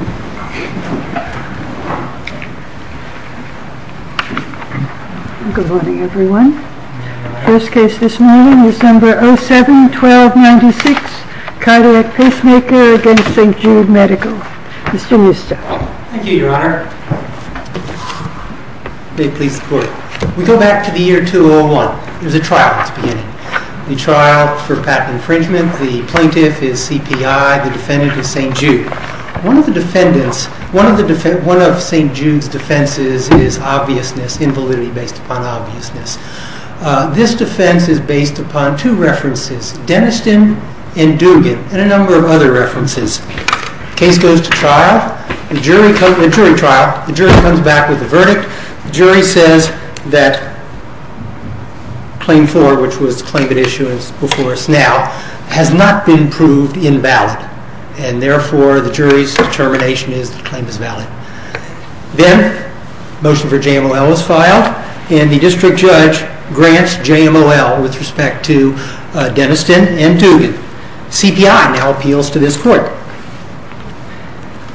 We go back to the year 2001. There was a trial at the beginning. The trial for patent infringement. The plaintiff is CPI, the defendant is St. Jude. One of St. Jude's defenses is obviousness, invalidity based upon obviousness. This defense is based upon two references, Deniston and Dugan, and a number of other references. The case goes to trial. The jury comes back with a verdict. The jury says that Claim 4, which was the claim at issuance before us now, has not been proved invalid. Therefore, the jury's determination is that the claim is valid. Then, a motion for JMLL is filed, and the district judge grants JMLL with respect to Deniston and Dugan. CPI now appeals to this court.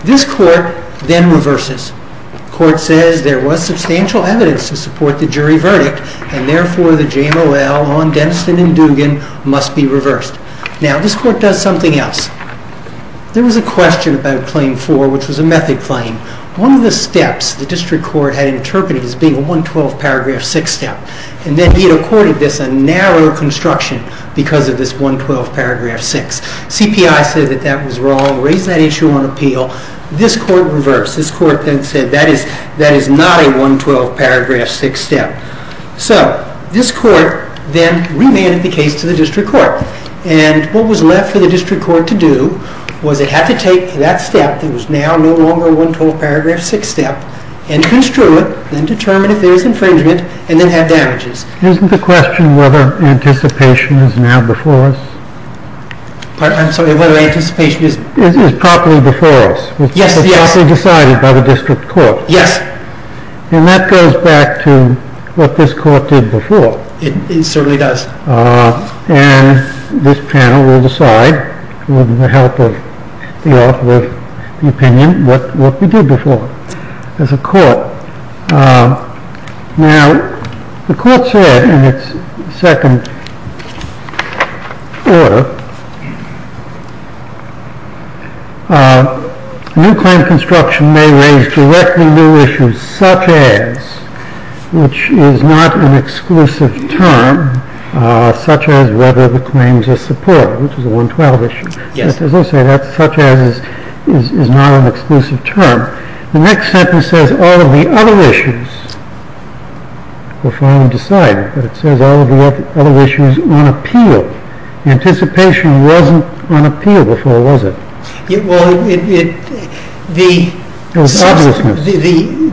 This court then reverses. The court says there was substantial evidence to support the jury verdict, and therefore the JMLL on Deniston and Dugan must be reversed. Now, this court does something else. There was a question about Claim 4, which was a method claim. One of the steps the district court had interpreted as being a 112 paragraph 6 step, and then it accorded this a narrow construction because of this 112 paragraph 6. CPI said that that was wrong, raised that issue on appeal. This court reversed. This court then said that is not a 112 paragraph 6 step. So, this court then remanded the case to the district court, and what was left for the district court to do was it had to take that step that was now no longer a 112 paragraph 6 step, and construe it, and determine if there was infringement, and then have damages. Isn't the question whether anticipation is now before us? I'm sorry, whether anticipation is... Is properly before us. Yes, yes. It's properly decided by the district court. Yes. And that goes back to what this court did before. It certainly does. And this panel will decide, with the help of the author of the opinion, what we did before as a court. Now, the court said in its second order, new claim construction may raise directly new issues such as, which is not an exclusive term, such as whether the claims are supported, which is a 112 issue. Yes. As I say, that such as is not an exclusive term. The next sentence says all of the other issues, we'll find and decide, but it says all of the other issues on appeal. Anticipation wasn't on appeal before, was it? Well,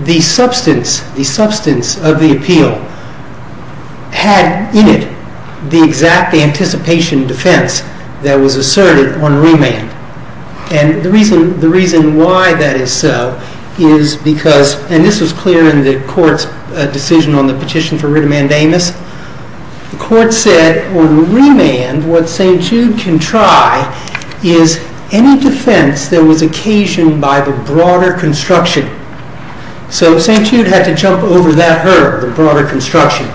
the substance of the appeal had in it the exact anticipation defense that was asserted on remand. And the reason why that is so is because, and this was clear in the court's decision on the petition for writ of mandamus, the court said on remand what St. Jude can try is any defense that was occasioned by the broader construction. So St. Jude had to jump over that hurdle, the broader construction.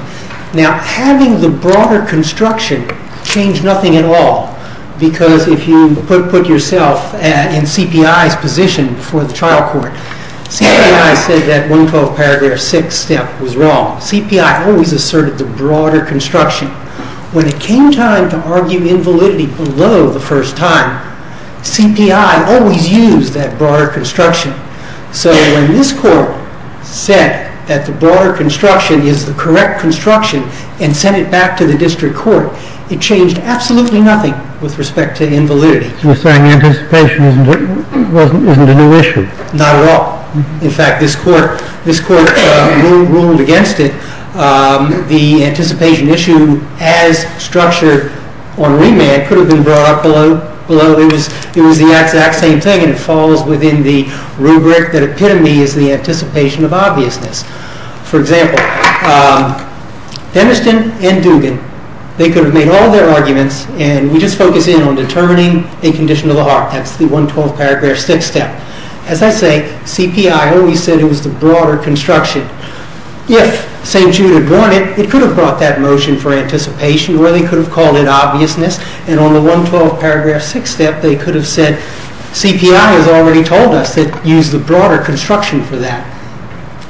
Now, having the broader construction changed nothing at all. Because if you put yourself in CPI's position for the trial court, CPI said that 112 paragraph 6 step was wrong. CPI always asserted the broader construction. When it came time to argue invalidity below the first time, CPI always used that broader construction. So when this court said that the broader construction is the correct construction and sent it back to the district court, it changed absolutely nothing with respect to invalidity. You're saying anticipation isn't a new issue? Not at all. In fact, this court ruled against it. The anticipation issue as structured on remand could have been brought up below. It was the exact same thing, and it falls within the rubric that epitome is the anticipation of obviousness. For example, Deniston and Dugan, they could have made all their arguments, and we just focus in on determining a condition of the heart. That's the 112 paragraph 6 step. As I say, CPI always said it was the broader construction. If St. Jude had won it, it could have brought that motion for anticipation, or they could have called it obviousness. And on the 112 paragraph 6 step, they could have said, CPI has already told us to use the broader construction for that.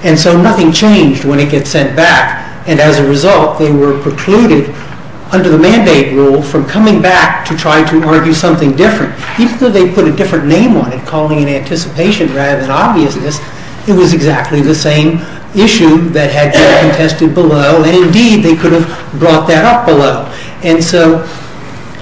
And so nothing changed when it gets sent back. And as a result, they were precluded under the mandate rule from coming back to try to argue something different, even though they put a different name on it, calling it anticipation rather than obviousness. It was exactly the same issue that had been contested below. And indeed, they could have brought that up below. And so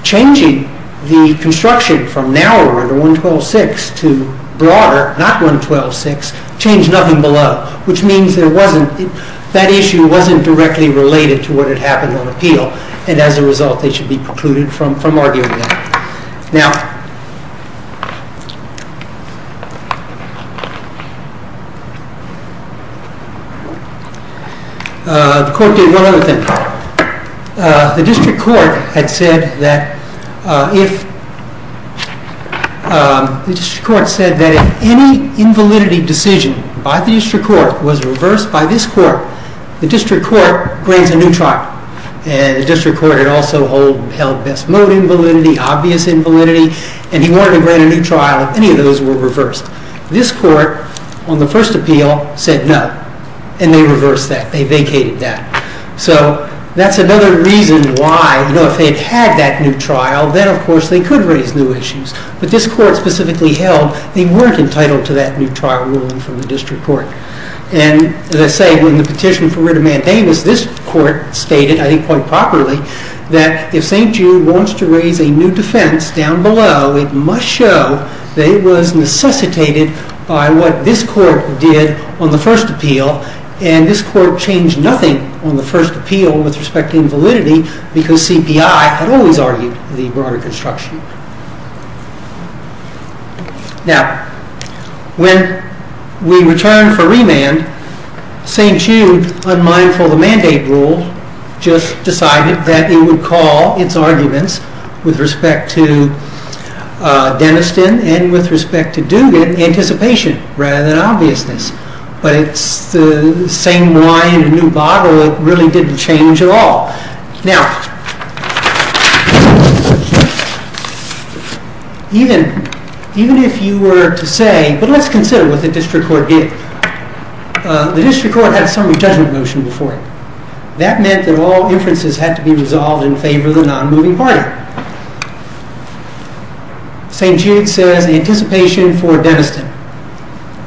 changing the construction from narrower, the 112.6, to broader, not 112.6, changed nothing below, which means that issue wasn't directly related to what had happened on appeal. And as a result, they should be precluded from arguing that. Now, the court did one other thing. The district court had said that if any invalidity decision by the district court was reversed by this court, the district court grants a new trial. And the district court had also held best mode invalidity, obvious invalidity, and he wanted to grant a new trial if any of those were reversed. This court, on the first appeal, said no. And they reversed that. They vacated that. So that's another reason why, you know, if they'd had that new trial, then of course they could raise new issues. But this court specifically held they weren't entitled to that new trial ruling from the district court. And as I say, in the petition for writ of mandamus, this court stated, I think quite properly, that if St. Jude wants to raise a new defense down below, it must show that it was necessitated by what this court did on the first appeal. And this court changed nothing on the first appeal with respect to invalidity, because CPI had always argued the broader construction. Now, when we return for remand, St. Jude, unmindful of the mandate rule, just decided that it would call its arguments with respect to Deniston and with respect to Dugan anticipation rather than obviousness. But it's the same wine in a new bottle. It really didn't change at all. Now, even if you were to say, but let's consider what the district court did. The district court had a summary judgment motion before it. That meant that all inferences had to be resolved in favor of the non-moving party. St. Jude says anticipation for Deniston.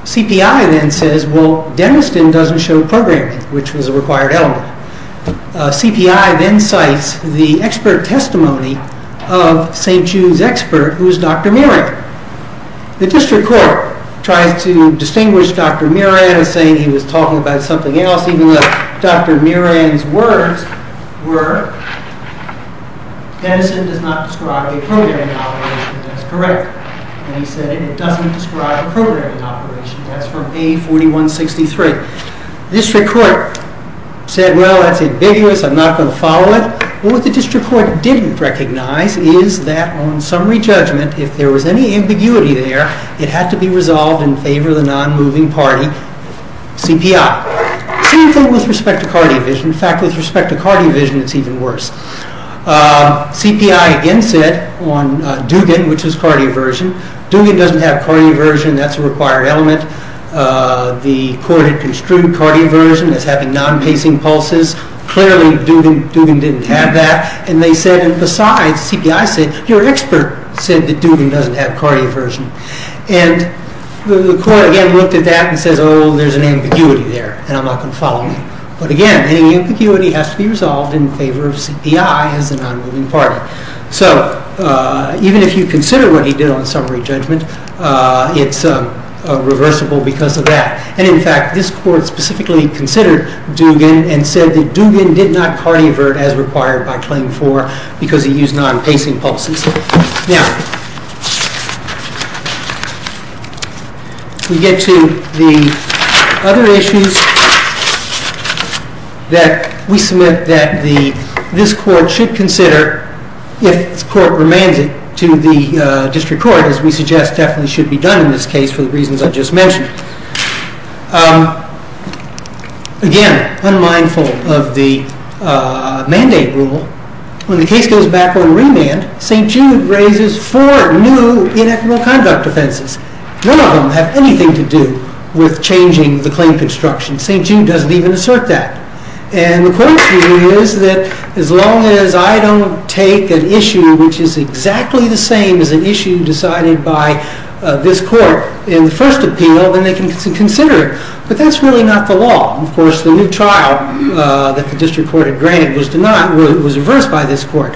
CPI then says, well, Deniston doesn't show programming, which was a required element. CPI then cites the expert testimony of St. Jude's expert, who is Dr. Muran. The district court tries to distinguish Dr. Muran as saying he was talking about something else, even though Dr. Muran's words were, Deniston does not describe a programming operation. That's correct. And he said it doesn't describe a programming operation. That's from A4163. The district court said, well, that's ambiguous. I'm not going to follow it. What the district court didn't recognize is that on summary judgment, if there was any ambiguity there, it had to be resolved in favor of the non-moving party, CPI. Same thing with respect to cardio vision. In fact, with respect to cardio vision, it's even worse. CPI again said on Dugan, which is cardioversion, Dugan doesn't have cardioversion. That's a required element. The court had construed cardioversion as having non-pacing pulses. Clearly, Dugan didn't have that. And they said, and besides, CPI said, your expert said that Dugan doesn't have cardioversion. And the court again looked at that and says, oh, there's an ambiguity there, and I'm not going to follow it. But again, any ambiguity has to be resolved in favor of CPI as a non-moving party. So even if you consider what he did on summary judgment, it's reversible because of that. And in fact, this court specifically considered Dugan and said that Dugan did not cardiovert as required by Claim 4 because he used non-pacing pulses. Now, we get to the other issues that we submit that this court should consider if the court remands it to the district court, as we suggest definitely should be done in this case for the reasons I've just mentioned. Again, unmindful of the mandate rule, when the case goes back on remand, St. Jude raises four new inequitable conduct offenses. None of them have anything to do with changing the claim construction. St. Jude doesn't even assert that. And the court's view is that as long as I don't take an issue which is exactly the same as an issue decided by this court in the first appeal, then they can consider it. But that's really not the law. Of course, the new trial that the district court had granted was denied, was reversed by this court.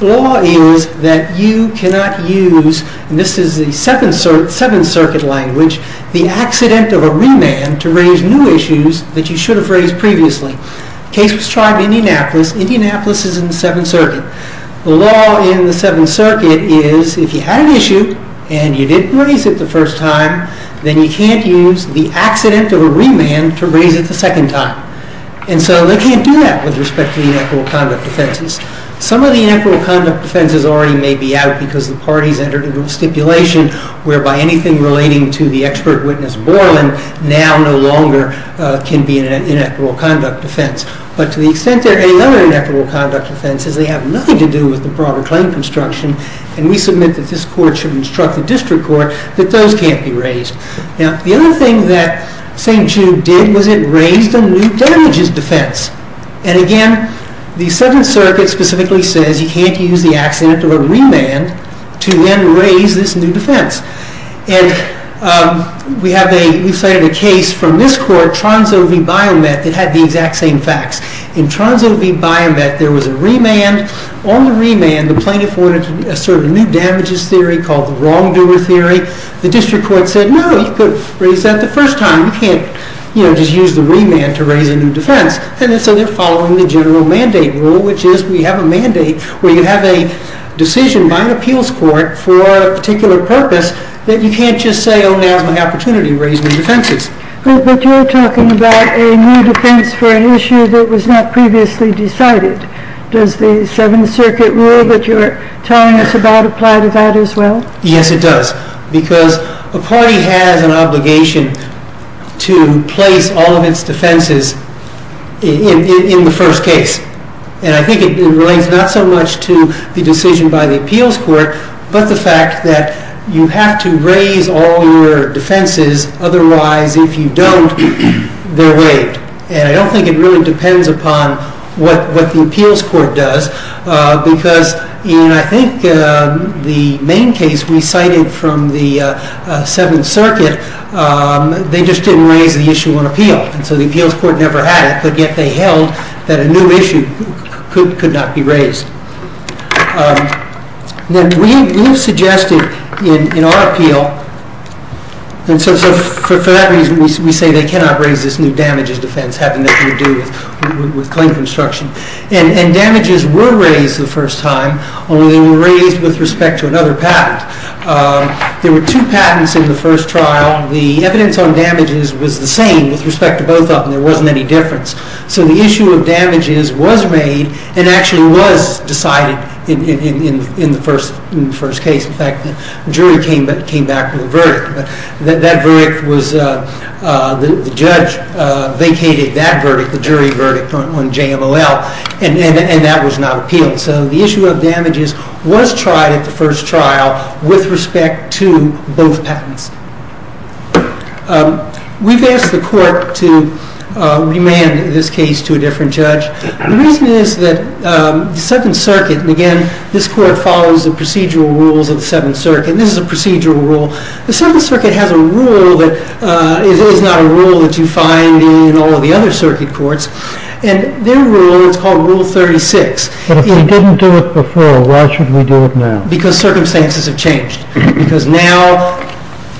The law is that you cannot use, and this is the Seventh Circuit language, the accident of a remand to raise new issues that you should have raised previously. The case was tried in Indianapolis. Indianapolis is in the Seventh Circuit. The law in the Seventh Circuit is if you had an issue and you didn't raise it the first time, then you can't use the accident of a remand to raise it the second time. And so they can't do that with respect to the inequitable conduct offenses. Some of the inequitable conduct offenses already may be out because the parties entered into a stipulation whereby anything relating to the expert witness Borland now no longer can be an inequitable conduct offense. But to the extent there are any other inequitable conduct offenses, they have nothing to do with the broader claim construction, and we submit that this court should instruct the district court that those can't be raised. Now, the other thing that St. Jude did was it raised a new damages defense. And again, the Seventh Circuit specifically says you can't use the accident of a remand to then raise this new defense. And we cited a case from this court, Tronso v. Biomet, that had the exact same facts. In Tronso v. Biomet, there was a remand. On the remand, the plaintiff wanted to assert a new damages theory called the wrongdoer theory. The district court said, no, you could raise that the first time. You can't just use the remand to raise a new defense. And so they're following the general mandate rule, which is we have a mandate where you have a decision by an appeals court for a particular purpose that you can't just say, oh, now's my opportunity to raise new defenses. But you're talking about a new defense for an issue that was not previously decided. Does the Seventh Circuit rule that you're telling us about apply to that as well? Yes, it does. Because a party has an obligation to place all of its defenses in the first case. And I think it relates not so much to the decision by the appeals court, but the fact that you have to raise all your defenses. Otherwise, if you don't, they're waived. And I don't think it really depends upon what the appeals court does. Because in, I think, the main case we cited from the Seventh Circuit, they just didn't raise the issue on appeal. And so the appeals court never had it. But yet they held that a new issue could not be raised. Then we suggested in our appeal, and so for that reason, we say they cannot raise this new damages defense having nothing to do with claim construction. And damages were raised the first time, only they were raised with respect to another patent. There were two patents in the first trial. The evidence on damages was the same with respect to both of them. There wasn't any difference. So the issue of damages was made and actually was decided in the first case. In fact, the jury came back with a verdict. That verdict was, the judge vacated that verdict, the jury verdict on JMLL, and that was not appealed. So the issue of damages was tried at the first trial with respect to both patents. We've asked the court to remand this case to a different judge. The reason is that the Seventh Circuit, and again, this court follows the procedural rules of the Seventh Circuit, and this is a procedural rule. The Seventh Circuit has a rule that is not a rule that you find in all of the other circuit courts, and their rule is called Rule 36. But if we didn't do it before, why should we do it now? Because circumstances have changed. Because now,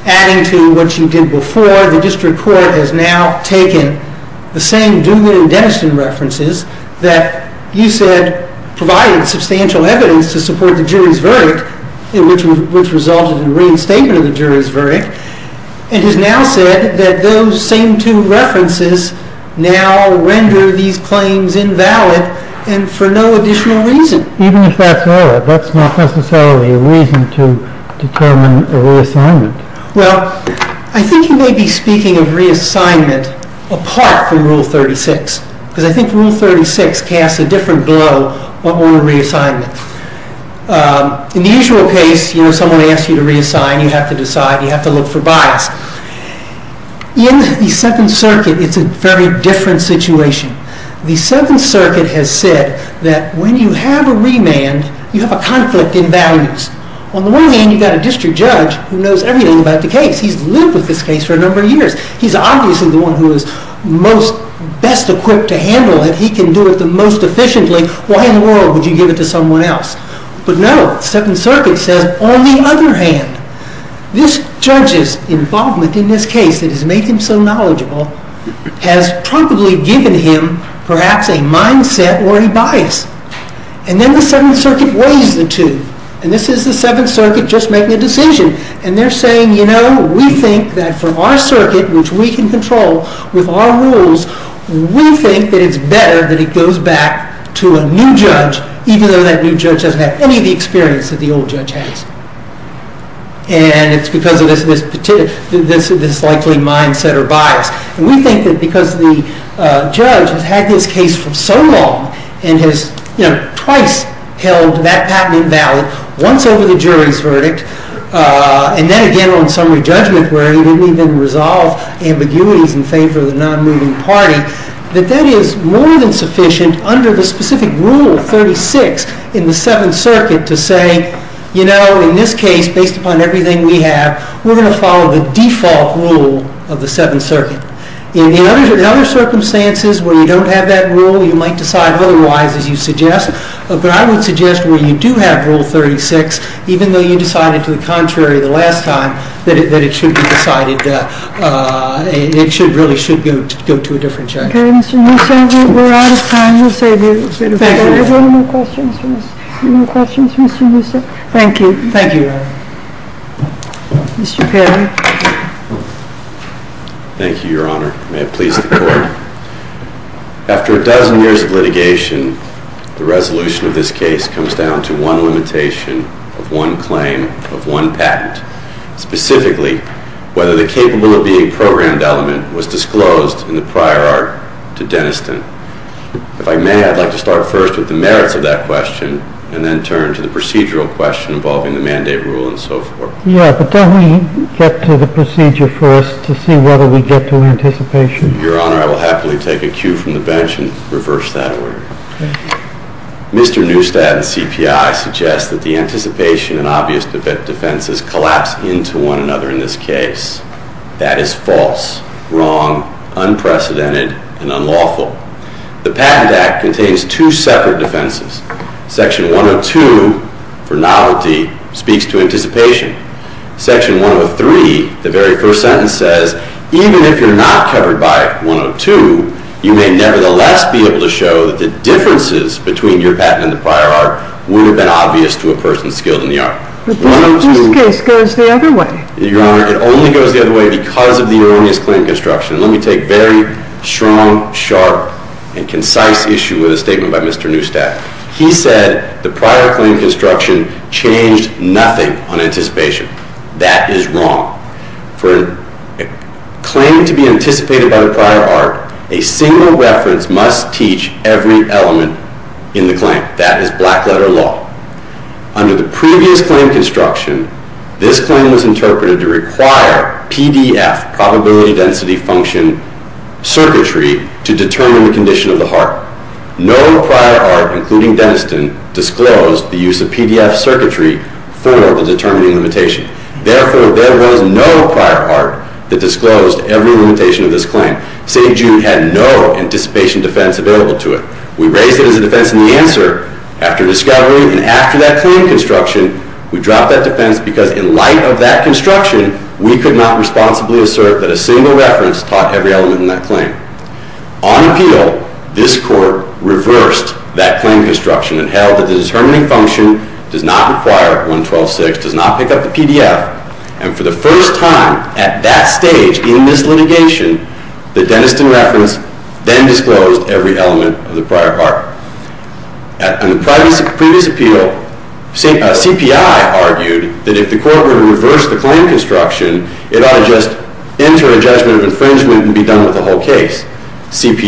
adding to what you did before, the district court has now taken the same Dugan and Denniston references that you said provided substantial evidence to support the jury's verdict, which resulted in reinstatement of the jury's verdict, and has now said that those same two references now render these claims invalid, and for no additional reason. Even if that's valid, that's not necessarily a reason to determine a reassignment. Well, I think you may be speaking of reassignment apart from Rule 36, because I think Rule 36 casts a different glow on reassignment. In the usual case, you know, someone asks you to reassign, you have to decide, you have to look for bias. In the Seventh Circuit, it's a very different situation. The Seventh Circuit has said that when you have a remand, you have a conflict in values. On the one hand, you've got a district judge who knows everything about the case. He's lived with this case for a number of years. He's obviously the one who is most best equipped to handle it. He can do it the most efficiently. Why in the world would you give it to someone else? But no, the Seventh Circuit says, on the other hand, this judge's involvement in this case that has made him so knowledgeable has probably given him perhaps a mindset or a bias. And then the Seventh Circuit weighs the two. And this is the Seventh Circuit just making a decision. And they're saying, you know, we think that for our circuit, which we can control with our rules, we think that it's better that it goes back to a new judge, even though that new judge doesn't have any of the experience that the old judge has. And it's because of this likely mindset or bias. And we think that because the judge has had this case for so long and has, you know, twice held that patent invalid, once over the jury's verdict, and then again on summary judgment where he didn't even resolve ambiguities in favor of the non-moving party, that that is more than sufficient under the specific Rule 36 in the Seventh Circuit to say, you know, in this case, based upon everything we have, we're going to follow the default rule of the Seventh Circuit. In the other circumstances where you don't have that rule, you might decide otherwise, as you suggest. But I would suggest where you do have Rule 36, even though you decided to the contrary the last time, that it should be decided. It really should go to a different judge. Okay, Mr. Musso, we're out of time. We'll save you a bit of time. Are there any more questions for Mr. Musso? Thank you. Thank you, Your Honor. Mr. Perry. Thank you, Your Honor. May it please the Court. After a dozen years of litigation, the resolution of this case comes down to one limitation of one claim of one patent. Specifically, whether the capable of being programmed element was disclosed in the prior art to Denniston. If I may, I'd like to start first with the merits of that question and then turn to the procedural question involving the mandate rule and so forth. Yeah, but don't we get to the procedure first to see whether we get to anticipation? Your Honor, I will happily take a cue from the bench and reverse that order. Mr. Neustadt and CPI suggest that the anticipation and obvious defenses collapse into one another in this case. That is false, wrong, unprecedented, and unlawful. The Patent Act contains two separate defenses. Section 102 for novelty speaks to anticipation. Section 103, the very first sentence says, even if you're not covered by 102, you may nevertheless be able to show that the differences between your patent and the prior art would have been obvious to a person skilled in the art. But then this case goes the other way. Your Honor, it only goes the other way because of the erroneous claim construction. Let me take a very strong, sharp, and concise issue with a statement by Mr. Neustadt. He said the prior claim construction changed nothing on anticipation. That is wrong. For a claim to be anticipated by the prior art, a single reference must teach every element in the claim. That is black-letter law. Under the previous claim construction, this claim was interpreted to require PDF, probability density function, circuitry to determine the condition of the heart. No prior art, including Deniston, disclosed the use of PDF circuitry for the determining limitation. Therefore, there was no prior art that disclosed every limitation of this claim. St. Jude had no anticipation defense available to it. We raised it as a defense in the answer after discovery, and after that claim construction, we dropped that defense because in light of that construction, we could not responsibly assert that a single reference taught every element in that claim. On appeal, this Court reversed that claim construction and held that the determining function does not require 112.6, does not pick up the PDF, and for the first time at that stage in this litigation, the Deniston reference then disclosed every element of the prior art. In the previous appeal, CPI argued that if the Court were to reverse the claim construction, it ought to just enter a judgment of infringement and be done with the whole case. St.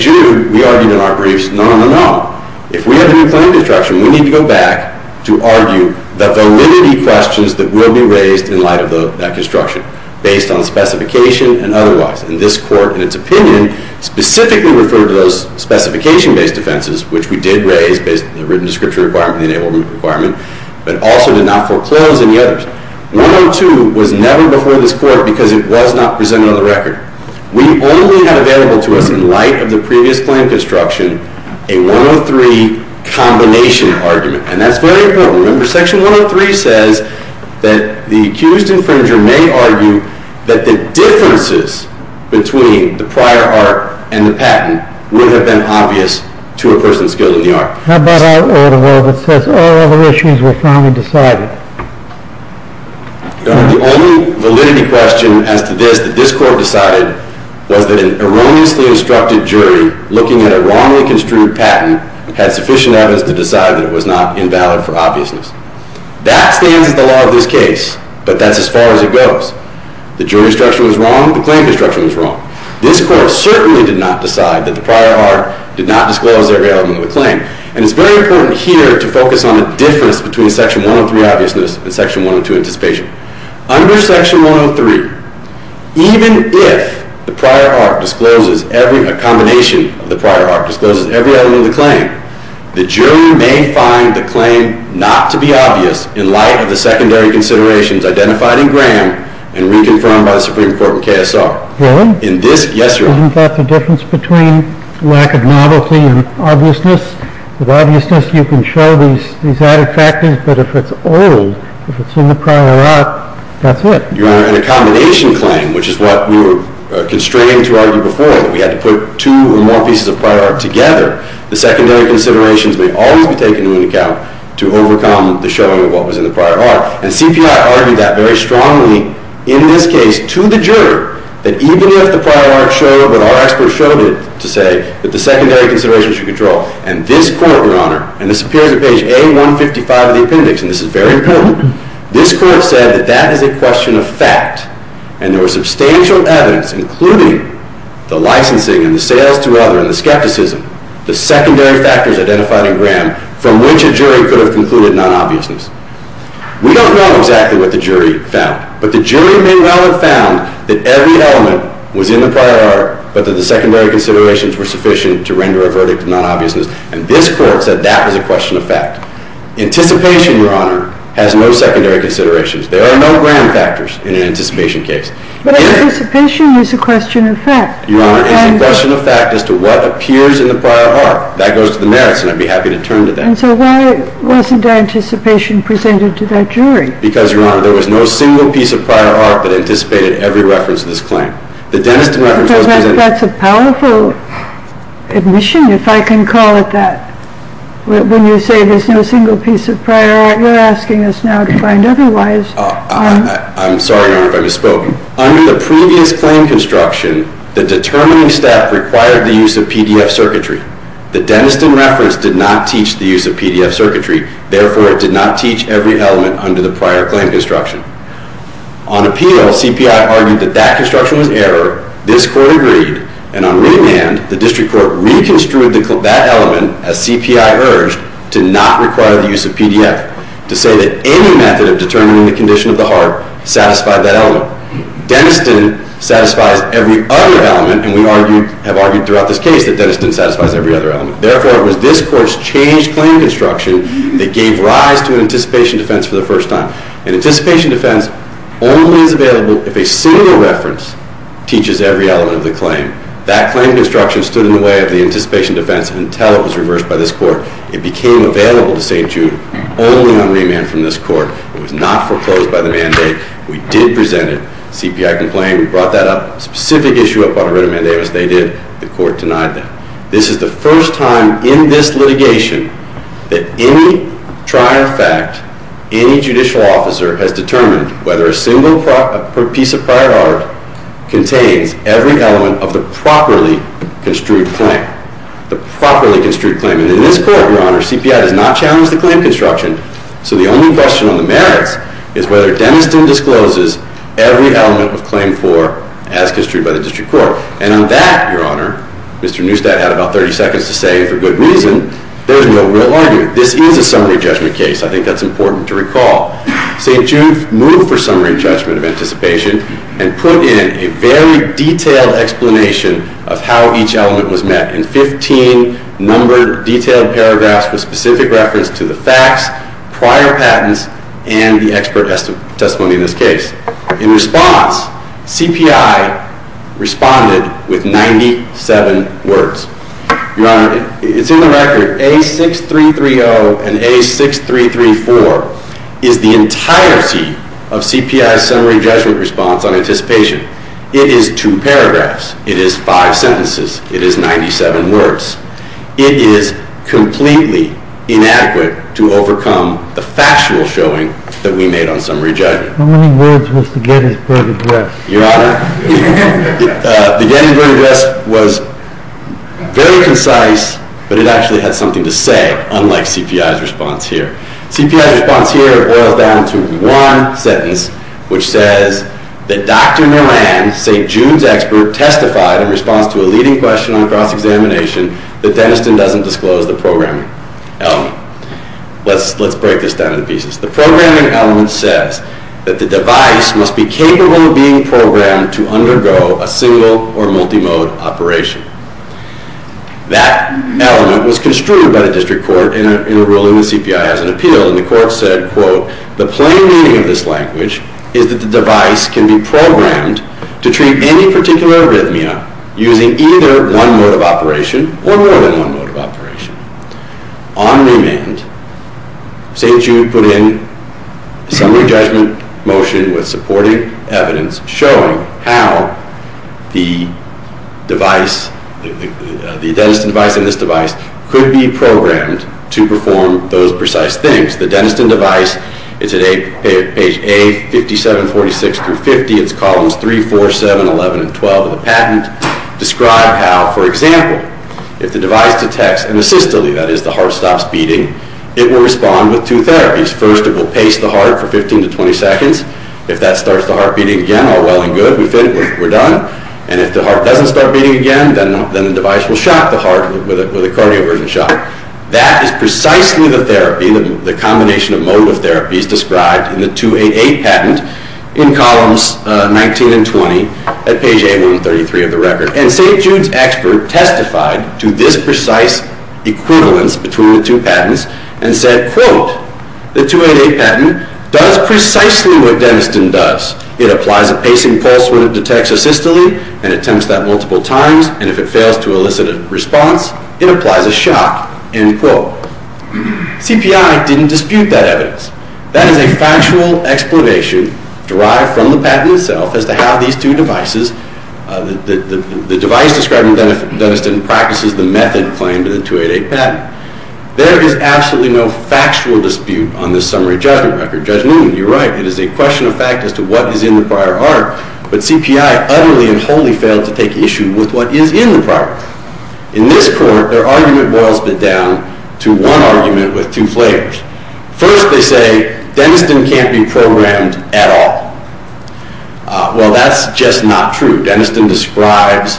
Jude, we argued in our briefs, no, no, no, no. If we have a new claim construction, we need to go back to argue the validity questions that will be raised in light of that construction based on the specification and otherwise. And this Court, in its opinion, specifically referred to those specification-based defenses, which we did raise based on the written description requirement, the enablement requirement, but also did not foreclose any others. 102 was never before this Court because it was not presented on the record. We only had available to us in light of the previous claim construction a 103 combination argument. And that's very important. Remember, Section 103 says that the accused infringer may argue that the differences between the prior art and the patent would have been obvious to a person skilled in the art. How about our order, though, that says all other issues were finally decided? Your Honor, the only validity question as to this that this Court decided was that an erroneously instructed jury looking at a wrongly construed patent had sufficient evidence to decide that it was not invalid for obviousness. That stands as the law of this case, but that's as far as it goes. The jury construction was wrong. The claim construction was wrong. This Court certainly did not decide that the prior art did not disclose every element of the claim. And it's very important here to focus on the difference between Section 103 obviousness and Section 102 anticipation. Under Section 103, even if a combination of the prior art discloses every element of the claim, the jury may find the claim not to be obvious in light of the secondary considerations identified in Graham and reconfirmed by the Supreme Court with KSR. Really? Yes, Your Honor. Isn't that the difference between lack of novelty and obviousness? With obviousness, you can show these added factors, but if it's old, if it's in the prior art, that's it. Your Honor, in a combination claim, which is what we were constrained to argue before, that we had to put two or more pieces of prior art together, the secondary considerations may always be taken into account to overcome the showing of what was in the prior art. And CPI argued that very strongly in this case to the jury that even if the prior art showed what our experts showed it to say, that the secondary considerations should control. And this Court, Your Honor, and this appears at page A155 of the appendix, and this is very important, this Court said that that is a question of fact, and there was substantial evidence, including the licensing and the sales to other and the skepticism, the secondary factors identified in Graham, from which a jury could have concluded non-obviousness. We don't know exactly what the jury found, but the jury may well have found that every element was in the prior art, but that the secondary considerations were sufficient to render a verdict of non-obviousness, and this Court said that was a question of fact. Anticipation, Your Honor, has no secondary considerations. There are no Graham factors in an anticipation case. But anticipation is a question of fact. Your Honor, it's a question of fact as to what appears in the prior art. That goes to the merits, and I'd be happy to turn to that. And so why wasn't anticipation presented to that jury? Because, Your Honor, there was no single piece of prior art that anticipated every reference to this claim. That's a powerful admission, if I can call it that. When you say there's no single piece of prior art, you're asking us now to find otherwise. I'm sorry, Your Honor, if I misspoke. Under the previous claim construction, the determining step required the use of PDF circuitry. The dentist in reference did not teach the use of PDF circuitry, therefore it did not teach every element under the prior claim construction. On appeal, CPI argued that that construction was error. This court agreed, and on remand, the district court reconstrued that element, as CPI urged, to not require the use of PDF, to say that any method of determining the condition of the heart satisfied that element. Dentist didn't satisfy every other element, and we have argued throughout this case that dentist didn't satisfy every other element. Therefore, it was this court's changed claim construction that gave rise to an anticipation defense for the first time. An anticipation defense only is available if a single reference teaches every element of the claim. That claim construction stood in the way of the anticipation defense until it was reversed by this court. It became available to St. Jude only on remand from this court. It was not foreclosed by the mandate. We did present it. CPI complained. We brought that specific issue up on a written mandate, as they did. The court denied that. This is the first time in this litigation that any trial fact, any judicial officer, has determined whether a single piece of prior art contains every element of the properly construed claim. The properly construed claim. And in this court, Your Honor, CPI does not challenge the claim construction, so the only question on the merits is whether dentist discloses every element of claim 4 as construed by the district court. And on that, Your Honor, Mr. Neustadt had about 30 seconds to say, and for good reason, there is no real argument. This is a summary judgment case. I think that's important to recall. St. Jude moved for summary judgment of anticipation and put in a very detailed explanation of how each element was met in 15 numbered, detailed paragraphs with specific reference to the facts, prior patents, and the expert testimony in this case. In response, CPI responded with 97 words. Your Honor, it's in the record. A6330 and A6334 is the entirety of CPI's summary judgment response on anticipation. It is two paragraphs. It is five sentences. It is 97 words. It is completely inadequate to overcome the factual showing that we made on summary judgment. How many words was the Gettysburg Address? Your Honor, the Gettysburg Address was very concise, but it actually had something to say, unlike CPI's response here. CPI's response here boils down to one sentence, which says that Dr. Moran, St. Jude's expert, testified in response to a leading question on cross-examination that Dentiston doesn't disclose the programming element. Let's break this down into pieces. The programming element says that the device must be capable of being programmed to undergo a single or multimode operation. That element was construed by the district court in ruling the CPI as an appeal, and the court said, quote, the plain meaning of this language is that the device can be programmed to treat any particular arrhythmia using either one mode of operation or more than one mode of operation. On remand, St. Jude put in a summary judgment motion with supporting evidence showing how the device, the Dentiston device and this device, could be programmed to perform those precise things. The Dentiston device, it's at page A, 5746 through 50. It's columns 3, 4, 7, 11, and 12 of the patent describe how, for example, if the device detects an asystole, that is, the heart stops beating, it will respond with two therapies. First, it will pace the heart for 15 to 20 seconds. If that starts the heart beating again, all well and good, we're done. And if the heart doesn't start beating again, then the device will shock the heart with a cardioversion shock. That is precisely the therapy, the combination of mode of therapies described in the 288 patent in columns 19 and 20 at page A, 133 of the record. And St. Jude's expert testified to this precise equivalence between the two patents and said, quote, the 288 patent does precisely what Dentiston does. It applies a pacing pulse when it detects asystole and attempts that multiple times, and if it fails to elicit a response, it applies a shock, end quote. CPI didn't dispute that evidence. That is a factual explanation derived from the patent itself as to how these two devices, the device described in Dentiston practices the method claimed in the 288 patent. There is absolutely no factual dispute on this summary judgment record. Judge Newman, you're right. It is a question of fact as to what is in the prior art, but CPI utterly and wholly failed to take issue with what is in the prior art. In this court, their argument boils down to one argument with two flavors. First, they say Dentiston can't be programmed at all. Well, that's just not true. Dentiston describes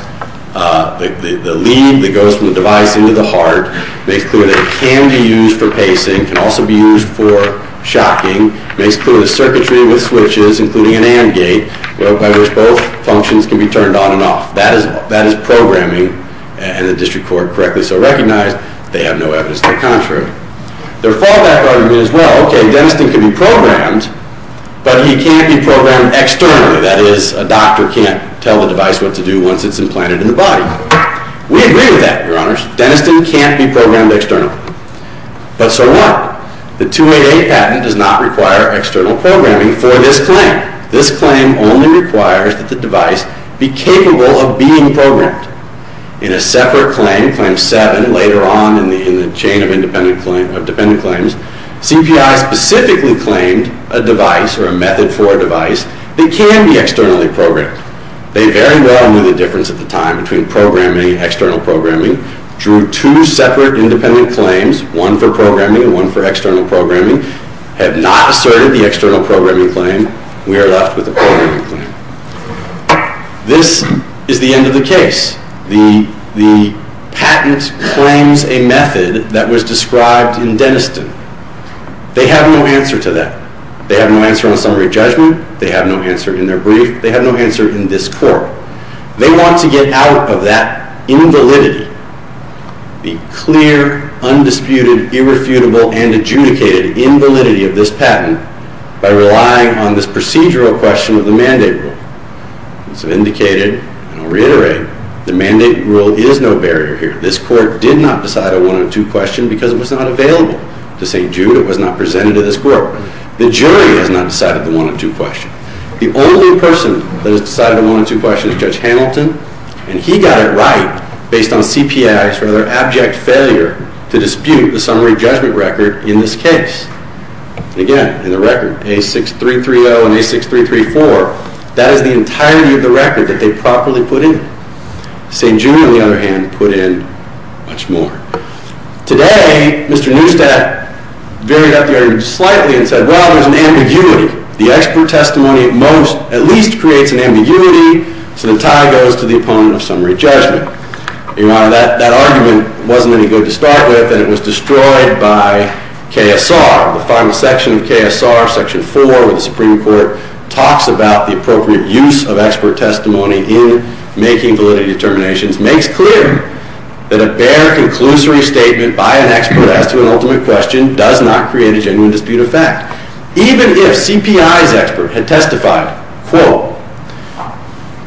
the lead that goes from the device into the heart, makes clear that it can be used for pacing, can also be used for shocking, makes clear the circuitry with switches, including an AND gate, by which both functions can be turned on and off. That is programming, and the district court correctly so recognized they have no evidence to the contrary. Their fallback argument is, well, okay, Dentiston can be programmed, but he can't be programmed externally. That is, a doctor can't tell the device what to do once it's implanted in the body. We agree with that, Your Honors. Dentiston can't be programmed externally. But so what? The 288 patent does not require external programming for this claim. This claim only requires that the device be capable of being programmed. In a separate claim, Claim 7, later on in the chain of independent claims, CPI specifically claimed a device, or a method for a device, that can be externally programmed. They very well knew the difference at the time between programming and external programming, drew two separate independent claims, one for programming and one for external programming, have not asserted the external programming claim. We are left with a programming claim. This is the end of the case. The patent claims a method that was described in Dentiston. They have no answer to that. They have no answer on summary judgment. They have no answer in their brief. They have no answer in this court. They want to get out of that invalidity, the clear, undisputed, irrefutable, and adjudicated invalidity of this patent by relying on this procedural question of the mandate rule. As I've indicated, and I'll reiterate, the mandate rule is no barrier here. This court did not decide a one-on-two question because it was not available to St. Jude. It was not presented to this court. The jury has not decided the one-on-two question. The only person that has decided the one-on-two question is Judge Hamilton, and he got it right based on CPI's rather abject failure to dispute the summary judgment record in this case. Again, in the record, A6330 and A6334, that is the entirety of the record that they properly put in. St. Jude, on the other hand, put in much more. Today, Mr. Neustadt varied up the argument slightly and said, well, there's an ambiguity. The expert testimony at least creates an ambiguity, so the tie goes to the opponent of summary judgment. Your Honor, that argument wasn't any good to start with, and it was destroyed by KSR. The final section of KSR, Section 4, where the Supreme Court talks about the appropriate use of expert testimony in making validity determinations, makes clear that a bare conclusory statement by an expert as to an ultimate question does not create a genuine dispute of fact. Even if CPI's expert had testified, quote,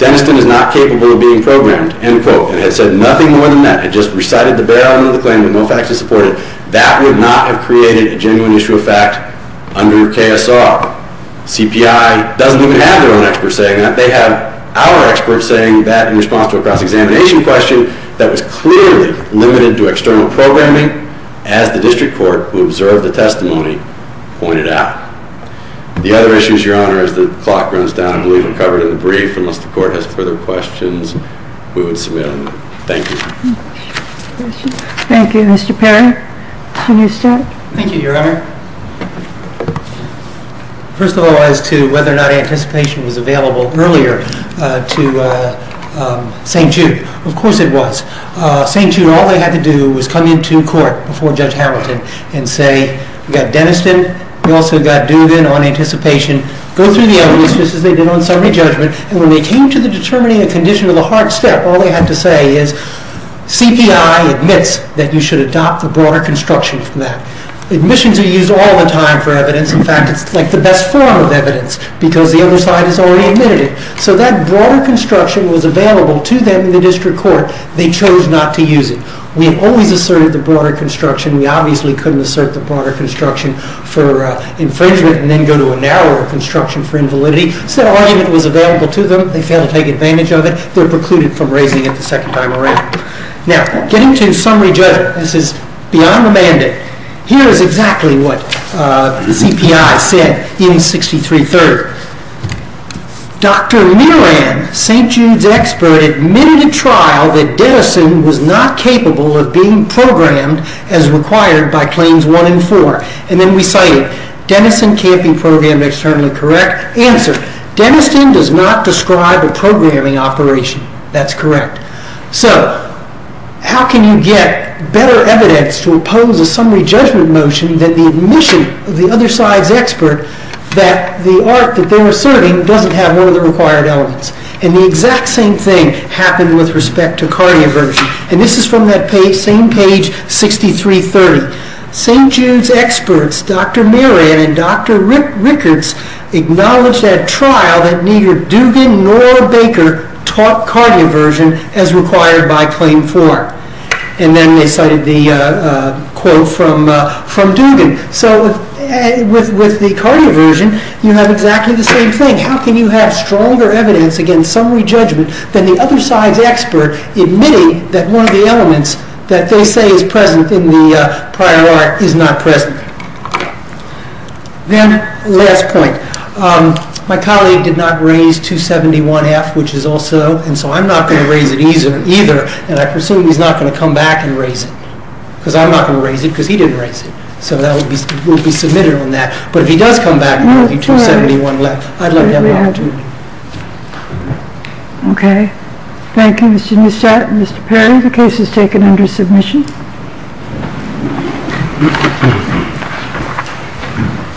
Deniston is not capable of being programmed, end quote, and had said nothing more than that, had just recited the bare item of the claim with no facts to support it, that would not have created a genuine issue of fact under KSR. CPI doesn't even have their own experts saying that. In fact, they have our experts saying that in response to a cross-examination question that was clearly limited to external programming, as the District Court, who observed the testimony, pointed out. The other issues, Your Honor, as the clock runs down, and we'll even cover it in the brief, unless the Court has further questions, we would submit them. Thank you. Thank you. Mr. Perry, can you start? Thank you, Your Honor. First of all, as to whether or not anticipation was available earlier to St. Jude, of course it was. St. Jude, all they had to do was come into court before Judge Hamilton and say, we've got Deniston, we've also got Dugan on anticipation, go through the evidence, just as they did on summary judgment, and when they came to determining a condition with a hard step, all they had to say is, CPI admits that you should adopt the broader construction from that. In fact, it's like the best form of evidence because the other side has already admitted it. So that broader construction was available to them in the District Court. They chose not to use it. We have always asserted the broader construction. We obviously couldn't assert the broader construction for infringement and then go to a narrower construction for invalidity. So that argument was available to them. They failed to take advantage of it. They were precluded from raising it the second time around. Now, getting to summary judgment, this is beyond the mandate. Here is exactly what the CPI said in 6330. Dr. Miran, St. Jude's expert, admitted in trial that Deniston was not capable of being programmed as required by claims one and four. And then we cited, Deniston camping program externally correct? Answer, Deniston does not describe a programming operation. That's correct. So how can you get better evidence to oppose a summary judgment motion that the admission of the other side's expert that the art that they're asserting doesn't have one of the required elements? And the exact same thing happened with respect to cardioversion. And this is from that same page, 6330. St. Jude's experts, Dr. Miran and Dr. Rickards, acknowledged at trial that neither Dugan nor Baker taught cardioversion as required by claim four. And then they cited the quote from Dugan. So with the cardioversion, you have exactly the same thing. How can you have stronger evidence against summary judgment than the other side's expert admitting that one of the elements that they say is present in the prior art is not present? Then, last point. My colleague did not raise 271F, which is also, and so I'm not going to raise it either. And I presume he's not going to come back and raise it. Because I'm not going to raise it, because he didn't raise it. So that will be submitted on that. But if he does come back and there will be 271 left, I'd let him have it too. Okay. Thank you, Mr. Neustadt and Mr. Perry. The case is taken under submission.